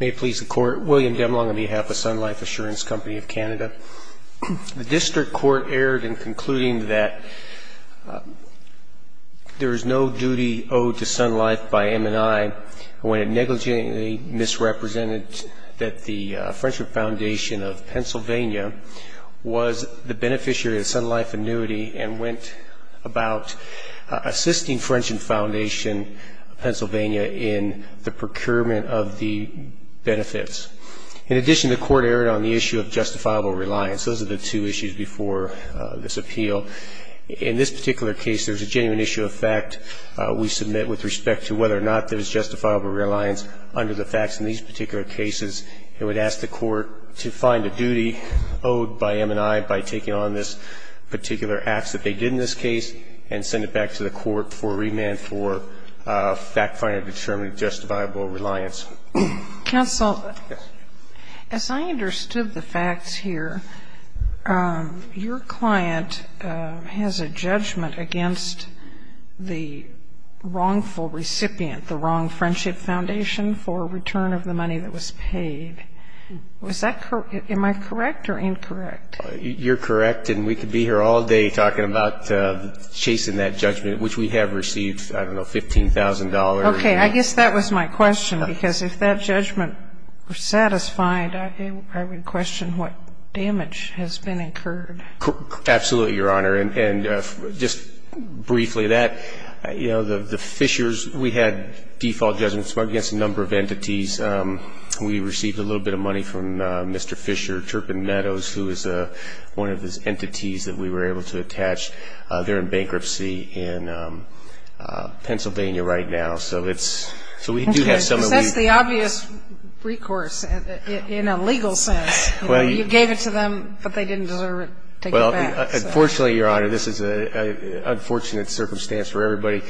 May it please the Court, William Demlong on behalf of Sun Life Assurance Company of Canada. The District Court erred in concluding that there is no duty owed to Sun Life by M&I when it negligently misrepresented that the Frenchman Foundation of Pennsylvania was the beneficiary of the Sun Life annuity and went about assisting Frenchman Foundation of Pennsylvania in the procurement of the benefits. In addition, the Court erred on the issue of justifiable reliance. Those are the two issues before this appeal. In this particular case, there's a genuine issue of fact we submit with respect to whether or not there's justifiable reliance under the facts in these particular cases. It would ask the Court to find a duty owed by M&I by taking on this particular act that they did in this case and send it back to the Court for remand for fact-finding a determined justifiable reliance. Counsel, as I understood the facts here, your client has a judgment against the wrongful recipient, the wrong Friendship Foundation, for return of the money that was paid. Am I correct or incorrect? You're correct. And we could be here all day talking about chasing that judgment, which we have received, I don't know, $15,000. Okay. I guess that was my question, because if that judgment were satisfied, I would question what damage has been incurred. Absolutely, Your Honor. And just briefly that, you know, the Fishers, we had default judgments against a number of entities. We received a little bit of money from Mr. Fisher, Turpin Meadows, who is one of the entities that we were able to attach. They're in bankruptcy in Pennsylvania right now, so it's – so we do have some of the – Because that's the obvious recourse in a legal sense. You gave it to them, but they didn't deserve it taken back. Well, unfortunately, Your Honor, this is an unfortunate circumstance for everybody.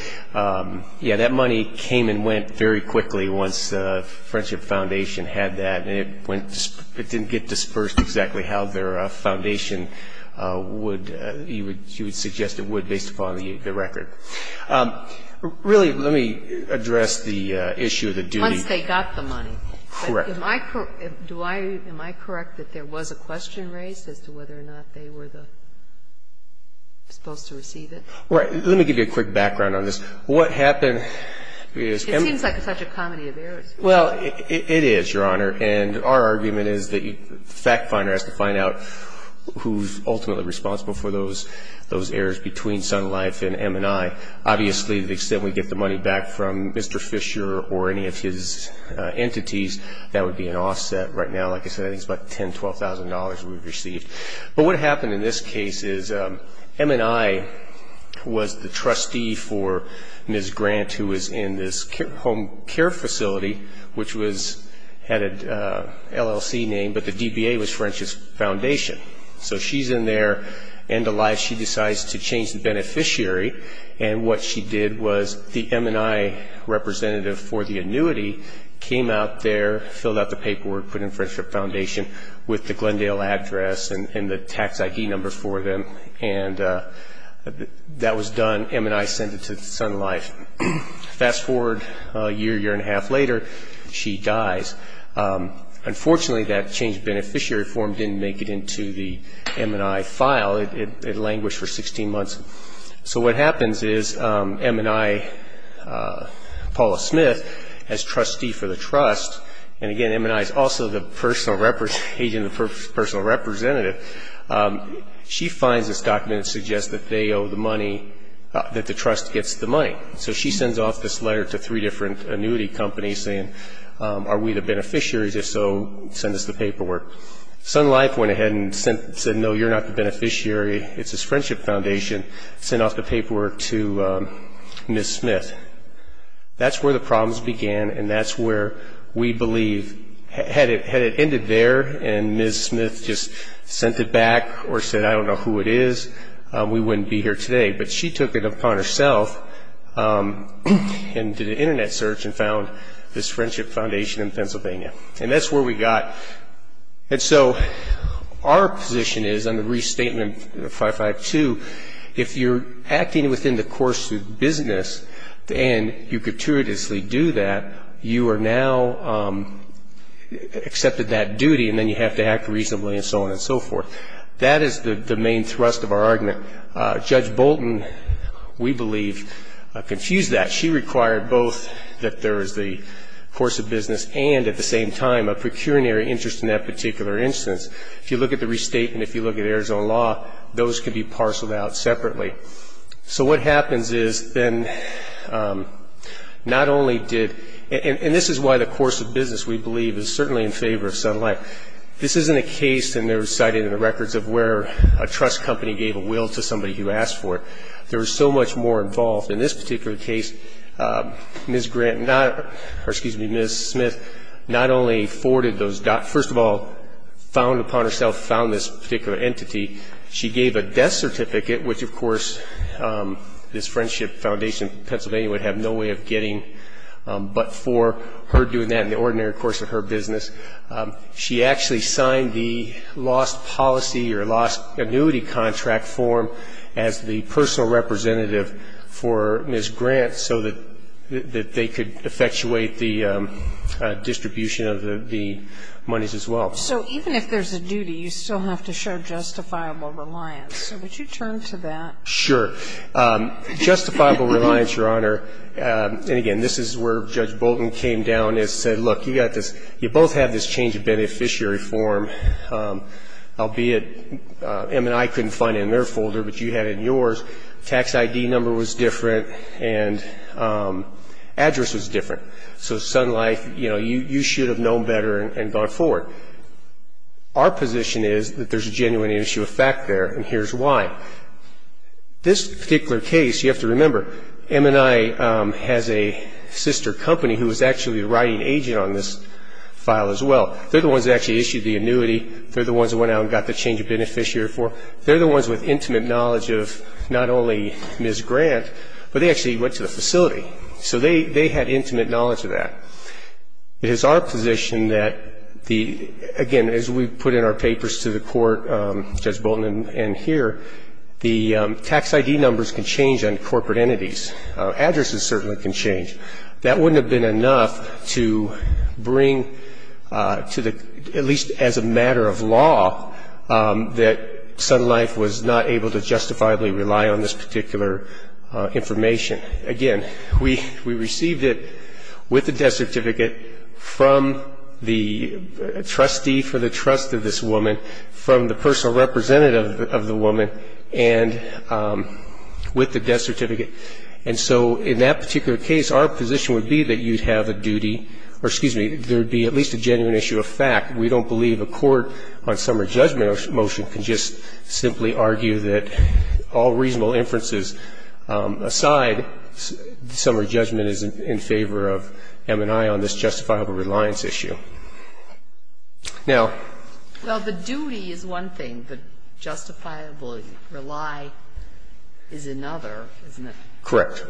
Yeah, that money came and went very quickly once Friendship Foundation had that, and it didn't get dispersed exactly how their foundation would – you would suggest it would based upon the record. Really, let me address the issue of the duty. Once they got the money. Correct. Am I correct that there was a question raised as to whether or not they were supposed to receive it? Right. Let me give you a quick background on this. What happened is – It seems like such a comedy of errors. Well, it is, Your Honor, and our argument is that the fact finder has to find out who's ultimately responsible for those errors between Sun Life and M&I. Obviously, the extent we get the money back from Mr. Fisher or any of his entities, that would be an offset. Right now, like I said, I think it's about $10,000, $12,000 we've received. But what happened in this case is M&I was the trustee for Ms. Grant, who was in this home care facility, which had an LLC name, but the DBA was Friendship Foundation. So she's in there, end of life, she decides to change the beneficiary, and what she did was the M&I representative for the annuity came out there, filled out the paperwork, put in Friendship Foundation with the Glendale address and the tax ID number for them, and that was done. M&I sent it to Sun Life. Fast forward a year, year and a half later, she dies. Unfortunately, that changed beneficiary form didn't make it into the M&I file. It languished for 16 months. So what happens is M&I, Paula Smith, as trustee for the trust, and again M&I is also the agent and personal representative, she finds this document that suggests that they owe the money, that the trust gets the money. So she sends off this letter to three different annuity companies saying, are we the beneficiaries? If so, send us the paperwork. Sun Life went ahead and said, no, you're not the beneficiary. It's this Friendship Foundation. Sent off the paperwork to Ms. Smith. That's where the problems began, and that's where we believe, had it ended there and Ms. Smith just sent it back or said, I don't know who it is, we wouldn't be here today. But she took it upon herself and did an Internet search and found this Friendship Foundation in Pennsylvania. And that's where we got. And so our position is on the restatement 552, if you're acting within the course of business and you gratuitously do that, you are now accepted that duty and then you have to act reasonably and so on and so forth. That is the main thrust of our argument. Judge Bolton, we believe, confused that. She required both that there is the course of business and at the same time a procuratory interest in that particular instance. If you look at the restatement, if you look at Arizona law, those can be parceled out separately. So what happens is then not only did, and this is why the course of business, we believe, is certainly in favor of Sun Life. This isn't a case, and they were cited in the records, of where a trust company gave a will to somebody who asked for it. There was so much more involved. In this particular case, Ms. Smith not only forwarded those documents, first of all found upon herself, found this particular entity. She gave a death certificate, which, of course, this Friendship Foundation of Pennsylvania would have no way of getting. But for her doing that in the ordinary course of her business, she actually signed the lost policy or lost annuity contract form as the personal representative for Ms. Grant so that they could effectuate the distribution of the monies as well. So even if there's a duty, you still have to show justifiable reliance. So would you turn to that? Sure. Justifiable reliance, Your Honor, and again, this is where Judge Bolton came down and said, look, you got this, you both have this change of beneficiary form, albeit M&I couldn't find it in their folder, but you had it in yours. Tax ID number was different, and address was different. So Sun Life, you should have known better and gone forward. Our position is that there's a genuine issue of fact there, and here's why. This particular case, you have to remember, M&I has a sister company who was actually the writing agent on this file as well. They're the ones that actually issued the annuity. They're the ones that went out and got the change of beneficiary form. They're the ones with intimate knowledge of not only Ms. Grant, but they actually went to the facility. So they had intimate knowledge of that. It is our position that, again, as we put in our papers to the court, Judge Bolton and here, the tax ID numbers can change on corporate entities. Addresses certainly can change. That wouldn't have been enough to bring to the, at least as a matter of law, that Sun Life was not able to justifiably rely on this particular information. Again, we received it with the death certificate from the trustee for the trust of this woman, from the personal representative of the woman, and with the death certificate. And so in that particular case, our position would be that you'd have a duty, or excuse me, there would be at least a genuine issue of fact. We don't believe a court on summary judgment motion can just simply argue that all reasonable inferences aside, summary judgment is in favor of M&I on this justifiable reliance issue. Now the duty is one thing. The justifiable rely is another, isn't it? Correct.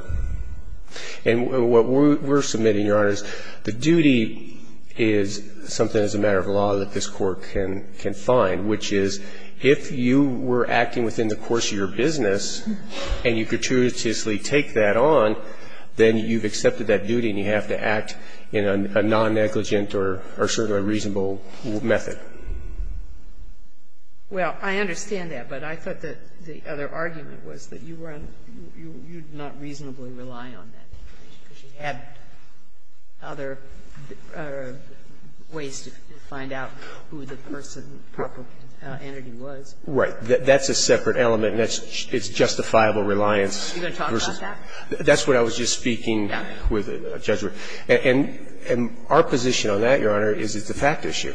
And what we're submitting, Your Honors, the duty is something as a matter of law that this Court can find, which is if you were acting within the course of your business and you gratuitously take that on, then you've accepted that duty and you have to act in a non-negligent or certainly reasonable method. Well, I understand that, but I thought that the other argument was that you weren't you'd not reasonably rely on that because you had other ways to find out who the person, proper entity was. Right. That's a separate element, and it's justifiable reliance. Are you going to talk about that? That's what I was just speaking with a judge. And our position on that, Your Honor, is it's a fact issue.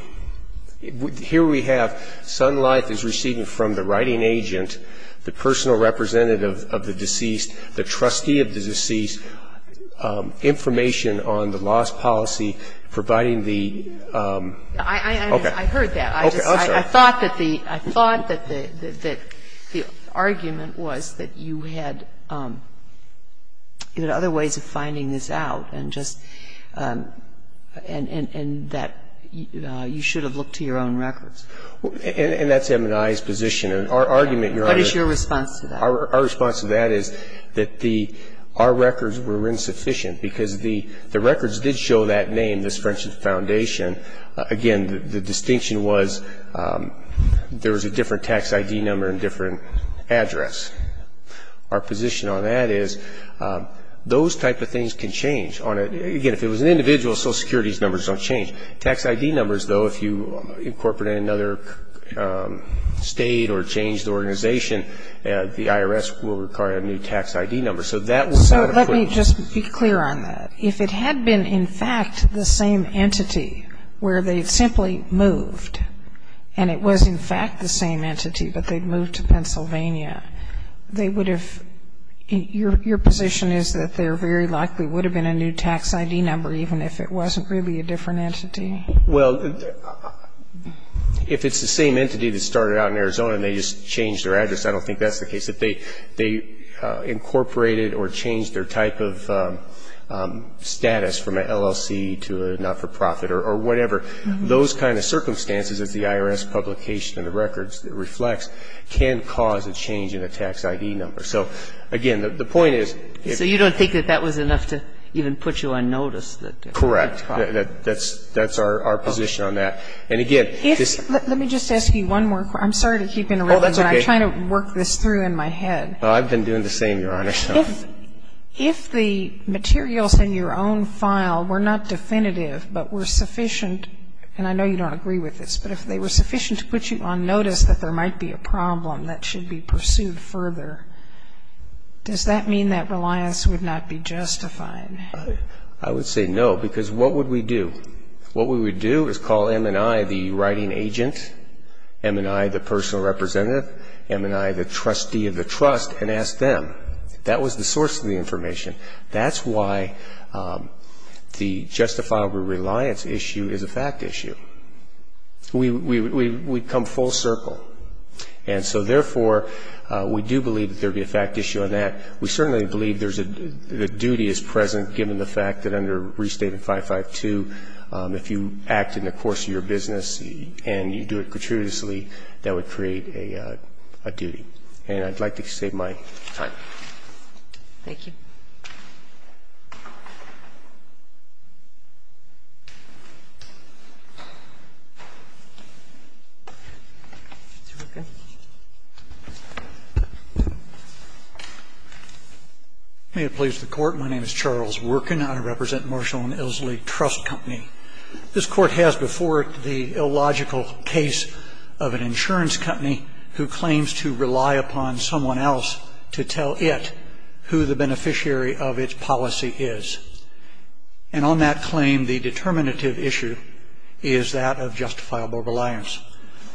Here we have Sun Life is receiving from the writing agent, the personal representative of the deceased, the trustee of the deceased, information on the loss policy, providing the Okay. I heard that. Okay. I'm sorry. I thought that the argument was that you had other ways of finding this out and just And that you should have looked to your own records. And that's M&I's position. And our argument, Your Honor, What is your response to that? Our response to that is that our records were insufficient because the records did show that name, this French Foundation. Again, the distinction was there was a different tax ID number and different address. Our position on that is those type of things can change. Again, if it was an individual, Social Security's numbers don't change. Tax ID numbers, though, if you incorporate another state or change the organization, the IRS will require a new tax ID number. So that was not a point. So let me just be clear on that. If it had been, in fact, the same entity where they simply moved, and it was, in fact, the same entity, but they'd moved to Pennsylvania, they would have, your position is that there very likely would have been a new tax ID number, even if it wasn't really a different entity. Well, if it's the same entity that started out in Arizona and they just changed their address, I don't think that's the case. If they incorporated or changed their type of status from an LLC to a not-for-profit or whatever, those kind of circumstances, as the IRS publication of the records reflects, can cause a change in a tax ID number. So, again, the point is if you don't think that that was enough to even put you on notice. Correct. That's our position on that. And, again, this ---- Let me just ask you one more. I'm sorry to keep interrupting, but I'm trying to work this through in my head. I've been doing the same, Your Honor. If the materials in your own file were not definitive but were sufficient, and I know you don't agree with this, but if they were sufficient to put you on notice that there might be a problem that should be pursued further, does that mean that reliance would not be justified? I would say no, because what would we do? What we would do is call M&I, the writing agent, M&I, the personal representative, M&I, the trustee of the trust, and ask them. That was the source of the information. That's why the justifiable reliance issue is a fact issue. We come full circle. And so, therefore, we do believe that there would be a fact issue on that. We certainly believe there's a ---- the duty is present, given the fact that under Restated 552 if you act in the course of your business and you do it gratuitously, that would create a duty. And I'd like to save my time. Thank you. May it please the Court. My name is Charles Workin. I represent Marshall & Ellsley Trust Company. This Court has before it the illogical case of an insurance company who claims to rely upon someone else to tell it who the beneficiary of its policy is. And on that claim, the determinative issue is that of justifiable reliance.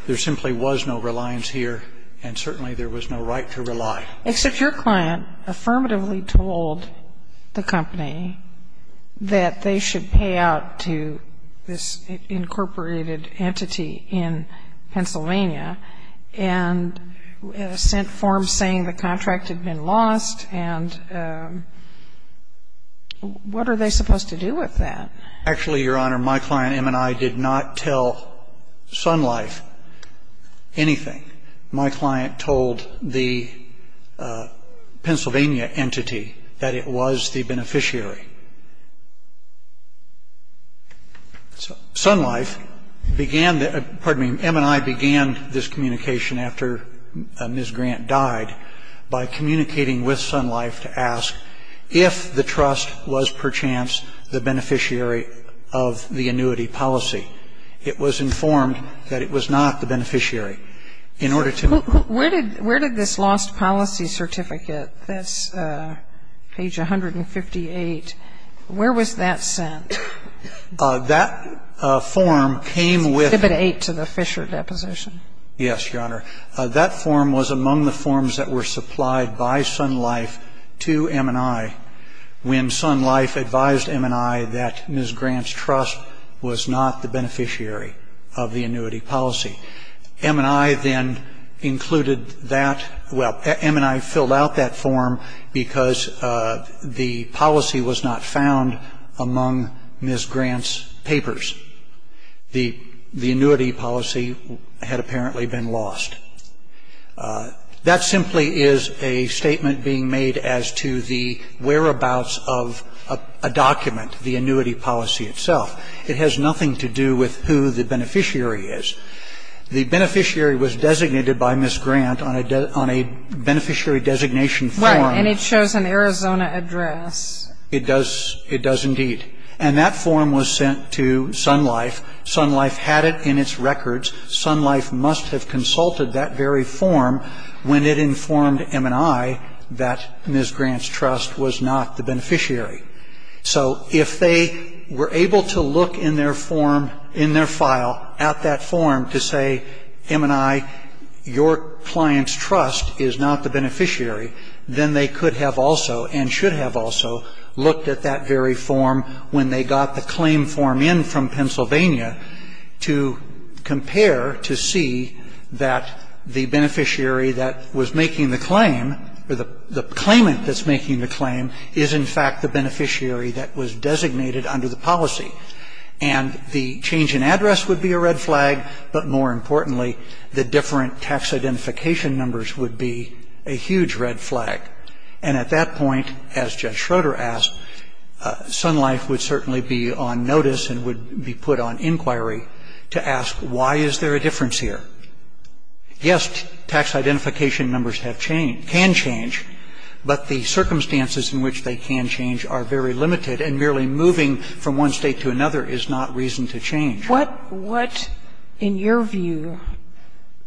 There simply was no reliance here, and certainly there was no right to rely. Except your client affirmatively told the company that they should pay out to this incorporated entity in Pennsylvania and sent forms saying the contract had been lost and what are they supposed to do with that? Actually, Your Honor, my client, M&I, did not tell Sun Life anything. My client told the Pennsylvania entity that it was the beneficiary. M&I began this communication after Ms. Grant died by communicating with Sun Life to ask if the trust was perchance the beneficiary of the annuity policy. It was informed that it was not the beneficiary. Where did this lost policy certificate, that's page 158, where was that sent? That form came with It's exhibit 8 to the Fisher deposition. Yes, Your Honor. That form was among the forms that were supplied by Sun Life to M&I when Sun Life advised M&I that Ms. Grant's trust was not the beneficiary of the annuity policy. M&I then included that. Well, M&I filled out that form because the policy was not found among Ms. Grant's papers. The annuity policy had apparently been lost. That simply is a statement being made as to the whereabouts of a document, the annuity policy itself. It has nothing to do with who the beneficiary is. The beneficiary was designated by Ms. Grant on a beneficiary designation form. Right, and it shows an Arizona address. It does indeed. And that form was sent to Sun Life. Sun Life had it in its records. Sun Life must have consulted that very form when it informed M&I that Ms. Grant's trust was not the beneficiary. So if they were able to look in their form, in their file, at that form to say, M&I, your client's trust is not the beneficiary, then they could have also and should have also looked at that very form when they got the claim form in from Pennsylvania to compare to see that the beneficiary that was making the claim or the claimant that's making the claim is, in fact, the beneficiary that was designated under the policy. And the change in address would be a red flag, but more importantly, the different tax identification numbers would be a huge red flag. And at that point, as Judge Schroeder asked, Sun Life would certainly be on notice and would be put on inquiry to ask why is there a difference here. Yes, tax identification numbers have changed, can change, but the circumstances in which they can change are very limited, and merely moving from one State to another is not reason to change. What, in your view,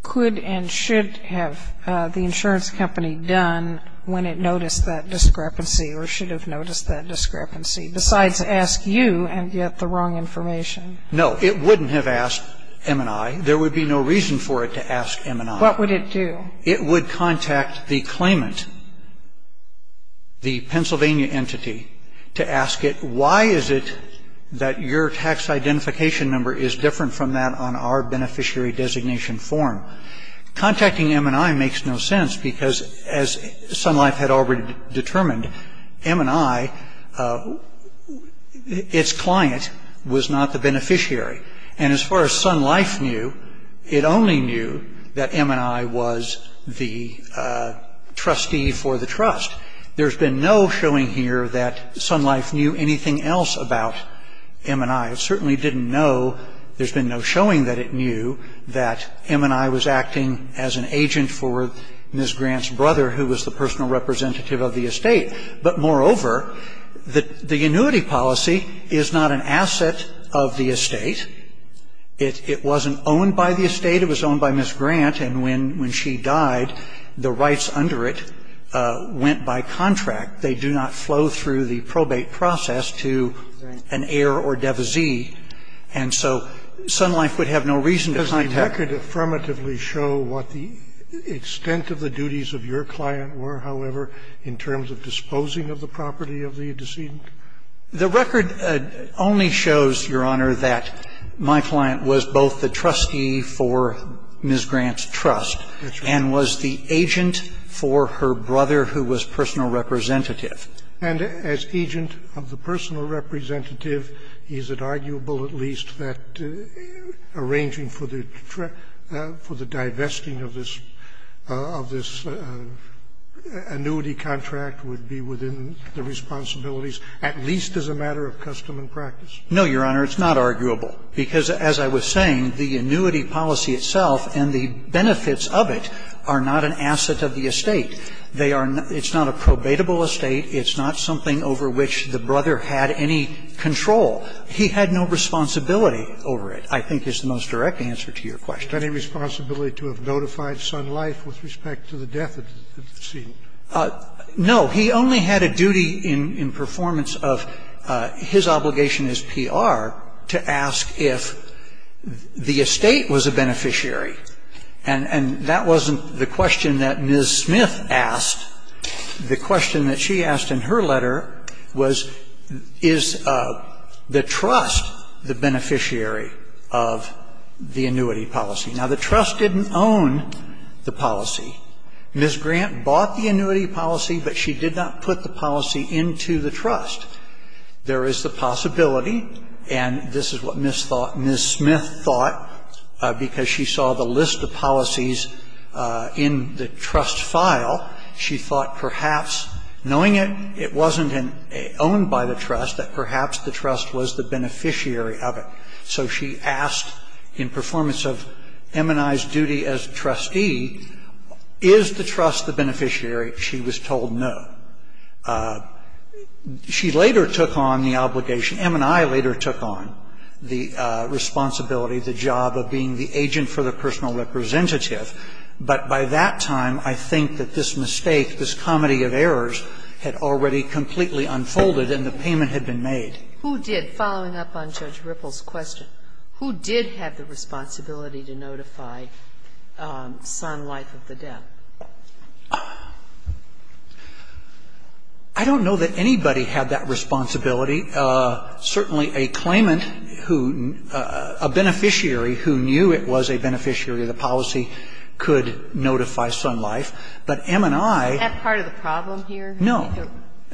could and should have the insurance company done when it noticed that discrepancy or should have noticed that discrepancy, besides ask you and get the wrong information? No, it wouldn't have asked M&I. There would be no reason for it to ask M&I. What would it do? It would contact the claimant, the Pennsylvania entity, to ask it, why is it that your tax identification number is different from that on our beneficiary designation form? Contacting M&I makes no sense because, as Sun Life had already determined, M&I, its client, was not the beneficiary. And as far as Sun Life knew, it only knew that M&I was the trustee for the trust. There's been no showing here that Sun Life knew anything else about M&I. It certainly didn't know, there's been no showing that it knew, that M&I was acting as an agent for Ms. Grant's brother, who was the personal representative of the estate. But, moreover, the annuity policy is not an asset of the estate. It wasn't owned by the estate. It was owned by Ms. Grant. And when she died, the rights under it went by contract. They do not flow through the probate process to an heir or devisee. And so Sun Life would have no reason to contact. Scalia. Does the record affirmatively show what the extent of the duties of your client were, however, in terms of disposing of the property of the decedent? The record only shows, Your Honor, that my client was both the trustee for Ms. Grant's trust and was the agent for her brother, who was personal representative. And as agent of the personal representative, is it arguable at least that arranging for the divesting of this annuity contract would be within the responsibilities of the client? And is it not arguable that the client was the trustee for Ms. Grant's trust, at least as a matter of custom and practice? No, Your Honor, it's not arguable, because, as I was saying, the annuity policy It's not a probatable estate. It's not something over which the brother had any control. He had no responsibility over it, I think, is the most direct answer to your question. Any responsibility to have notified Sun Life with respect to the death of the decedent? No. He only had a duty in performance of his obligation as PR to ask if the estate was a beneficiary. And that wasn't the question that Ms. Smith asked. The question that she asked in her letter was, is the trust the beneficiary of the annuity policy? Now, the trust didn't own the policy. Ms. Grant bought the annuity policy, but she did not put the policy into the trust. There is the possibility, and this is what Ms. Smith thought, because she saw the list of policies in the trust file. She thought, perhaps, knowing it wasn't owned by the trust, that perhaps the trust was the beneficiary of it. So she asked, in performance of M&I's duty as trustee, is the trust the beneficiary? She was told no. She later took on the obligation, M&I later took on the responsibility, the job of being the agent for the personal representative. But by that time, I think that this mistake, this comedy of errors, had already completely unfolded and the payment had been made. Who did, following up on Judge Ripple's question, who did have the responsibility to notify Sun Life of the death? I don't know that anybody had that responsibility. Certainly a claimant who, a beneficiary who knew it was a beneficiary of the policy could notify Sun Life. But M&I ---- Have part of the problem here? No.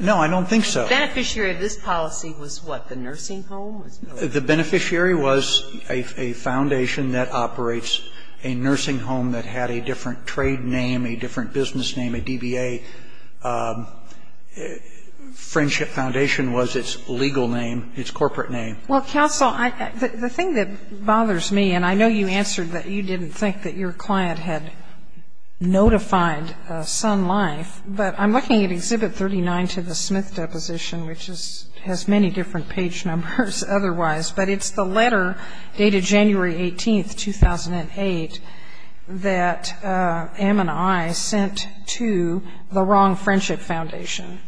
No, I don't think so. The beneficiary of this policy was what, the nursing home? The beneficiary was a foundation that operates a nursing home that had a different trade name, a different business name, a DBA. Friendship Foundation was its legal name, its corporate name. Well, counsel, the thing that bothers me, and I know you answered that you didn't think that your client had notified Sun Life, but I'm looking at Exhibit 39 to the Smith Deposition, which has many different page numbers otherwise. But it's the letter dated January 18, 2008, that M&I sent to the wrong Friendship Foundation,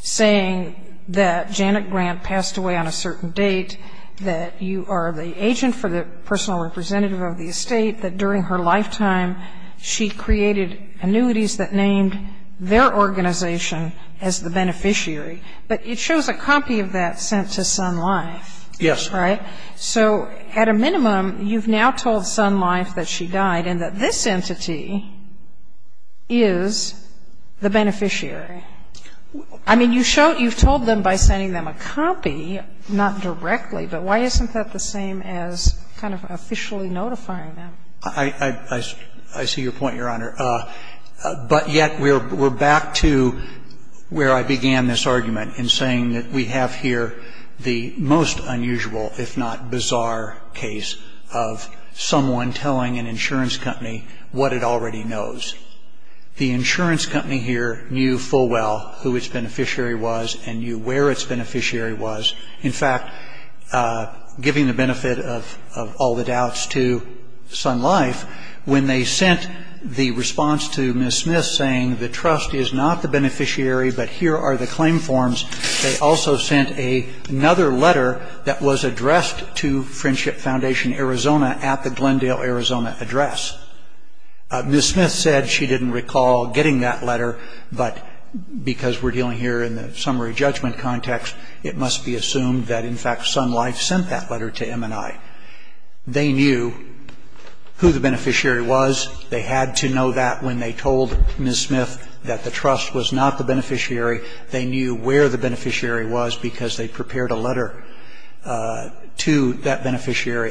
saying that Janet Grant passed away on a certain date, that you are the agent for the personal representative of the estate, that during her lifetime she created annuities that named their organization as the beneficiary. But it shows a copy of that sent to Sun Life. Yes. Right? So at a minimum, you've now told Sun Life that she died and that this entity is the beneficiary. I mean, you've told them by sending them a copy, not directly, but why isn't that the same as kind of officially notifying them? I see your point, Your Honor. But yet we're back to where I began this argument in saying that we have here the most unusual, if not bizarre, case of someone telling an insurance company what it already knows. The insurance company here knew full well who its beneficiary was and knew where its beneficiary was. In fact, giving the benefit of all the doubts to Sun Life, when they sent the response to Ms. Smith saying the trust is not the beneficiary, but here are the addressed to Friendship Foundation Arizona at the Glendale, Arizona address. Ms. Smith said she didn't recall getting that letter, but because we're dealing here in the summary judgment context, it must be assumed that, in fact, Sun Life sent that letter to M&I. They knew who the beneficiary was. They had to know that when they told Ms. Smith that the trust was not the beneficiary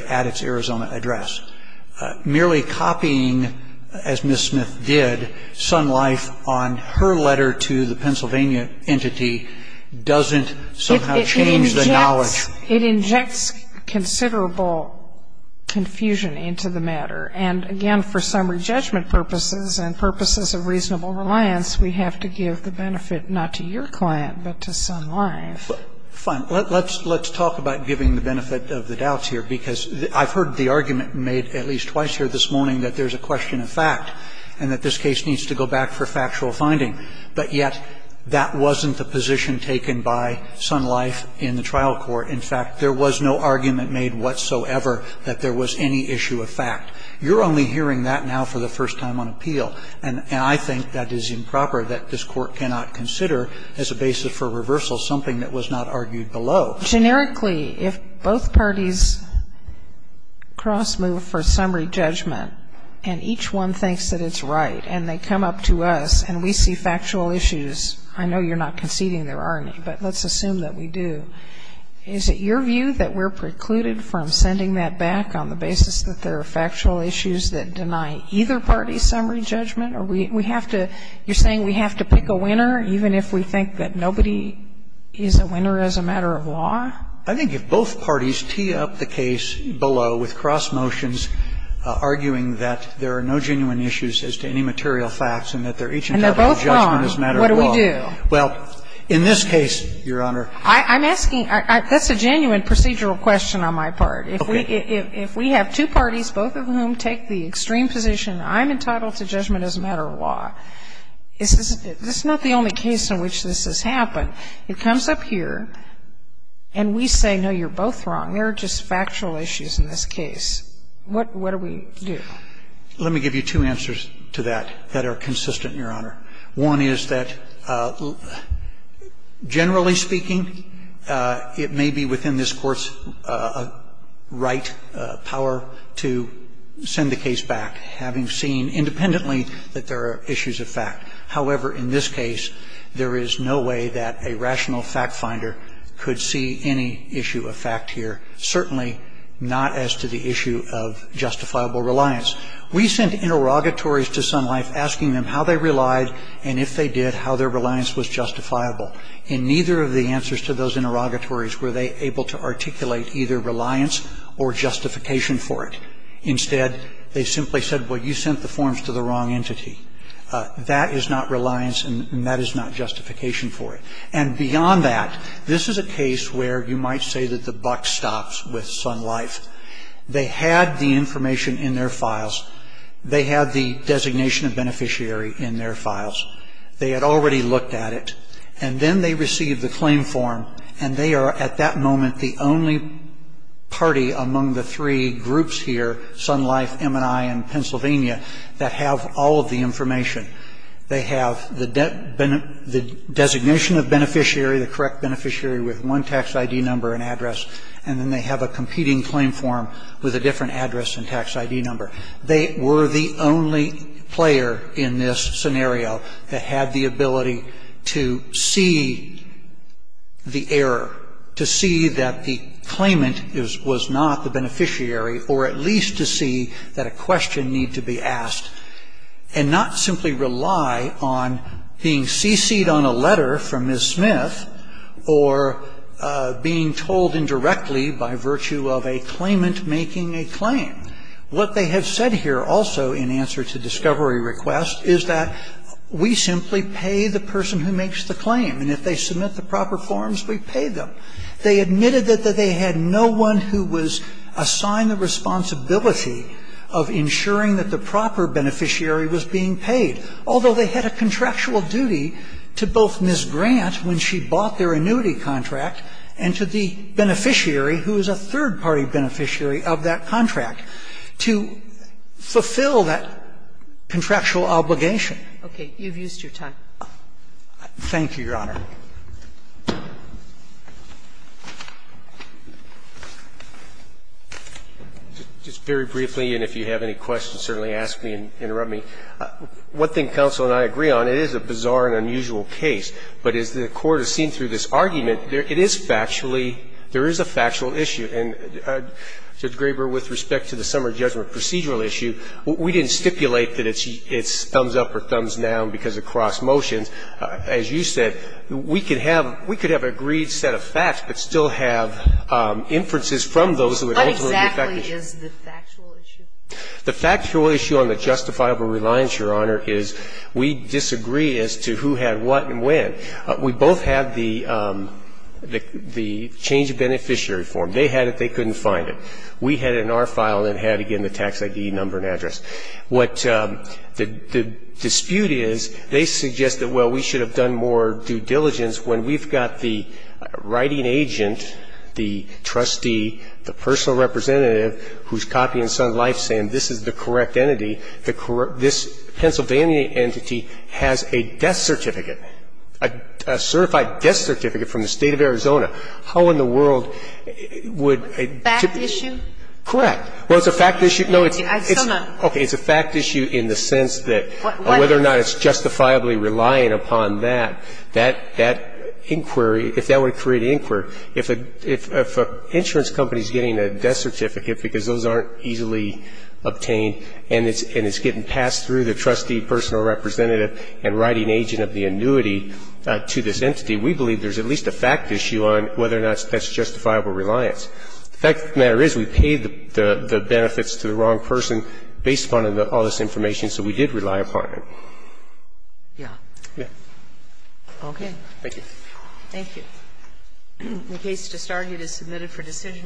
at its Arizona address. Merely copying, as Ms. Smith did, Sun Life on her letter to the Pennsylvania entity doesn't somehow change the knowledge. It injects considerable confusion into the matter. And, again, for summary judgment purposes and purposes of reasonable reliance, we have to give the benefit not to your client, but to Sun Life. Fine. Let's talk about giving the benefit of the doubts here, because I've heard the argument made at least twice here this morning that there's a question of fact and that this case needs to go back for factual finding. But yet that wasn't the position taken by Sun Life in the trial court. In fact, there was no argument made whatsoever that there was any issue of fact. You're only hearing that now for the first time on appeal, and I think that is improper, that this Court cannot consider as a basis for reversal something that was not argued below. Generically, if both parties cross-move for summary judgment and each one thinks that it's right and they come up to us and we see factual issues, I know you're not conceding there are any, but let's assume that we do, is it your view that we're precluded from sending that back on the basis that there are factual issues that matter? I think if both parties tee up the case below with cross-motions arguing that there are no genuine issues as to any material facts and that they're each entitled to judgment as a matter of law. And they're both wrong. What do we do? Well, in this case, Your Honor. I'm asking, that's a genuine procedural question on my part. Okay. If we have two parties, both of whom take the extreme position, I'm entitled to judgment as a matter of law, this is not the only case in which this has happened. It comes up here and we say, no, you're both wrong. There are just factual issues in this case. What do we do? Let me give you two answers to that that are consistent, Your Honor. One is that, generally speaking, it may be within this Court's right, power, to send the case back, having seen independently that there are issues of fact. However, in this case, there is no way that a rational fact finder could see any issue of fact here, certainly not as to the issue of justifiable reliance. We sent interrogatories to Sun Life asking them how they relied, and if they did, how their reliance was justifiable. In neither of the answers to those interrogatories were they able to articulate either reliance or justification for it. Instead, they simply said, well, you sent the forms to the wrong entity. That is not reliance and that is not justification for it. And beyond that, this is a case where you might say that the buck stops with Sun Life. They had the information in their files. They had the designation of beneficiary in their files. They had already looked at it. And then they received the claim form, and they are at that moment the only party among the three groups here, Sun Life, MNI, and Pennsylvania, that have all of the information. They have the designation of beneficiary, the correct beneficiary with one tax ID number and address, and then they have a competing claim form with a different address and tax ID number. They were the only player in this scenario that had the ability to see the error, to see that the claimant was not the beneficiary or at least to see that a question needed to be asked and not simply rely on being cc'd on a letter from Ms. Smith or being told indirectly by virtue of a claimant making a claim. What they have said here also in answer to discovery request is that we simply pay the person who makes the claim. And if they submit the proper forms, we pay them. They admitted that they had no one who was assigned the responsibility of ensuring that the proper beneficiary was being paid, although they had a contractual duty to both Ms. Grant when she bought their annuity contract and to the beneficiary who is a third-party beneficiary of that contract to fulfill that contractual obligation. Kagan. Okay, you've used your time. Thank you, Your Honor. Just very briefly, and if you have any questions, certainly ask me and interrupt me. One thing counsel and I agree on, it is a bizarre and unusual case, but as the Court has seen through this argument, it is factually – there is a factual issue. And, Judge Graber, with respect to the summer judgment procedural issue, we didn't stipulate that it's thumbs-up or thumbs-down because of cross motions. As you said, we could have an agreed set of facts but still have inferences from those that would ultimately be factual. What exactly is the factual issue? The factual issue on the justifiable reliance, Your Honor, is we disagree as to who had what and when. We both had the change of beneficiary form. They had it, they couldn't find it. And the fact is, what the dispute is, they suggest that, well, we should have done more due diligence when we've got the writing agent, the trustee, the personal representative who's copying Sun Life saying this is the correct entity, this Pennsylvania entity has a death certificate, a certified death certificate from the State of Arizona. How in the world would a – Fact issue? Correct. Well, it's a fact issue. No, it's a fact issue in the sense that whether or not it's justifiably relying upon that, that inquiry, if that were to create an inquiry, if an insurance company is getting a death certificate because those aren't easily obtained and it's getting passed through the trustee, personal representative and writing agent of the annuity to this entity, we believe there's at least a fact issue on whether or not that's justifiable reliance. The fact of the matter is we paid the benefits to the wrong person based upon all this information, so we did rely upon it. Yeah. Yeah. Okay. Thank you. Thank you. The case just argued is submitted for decision.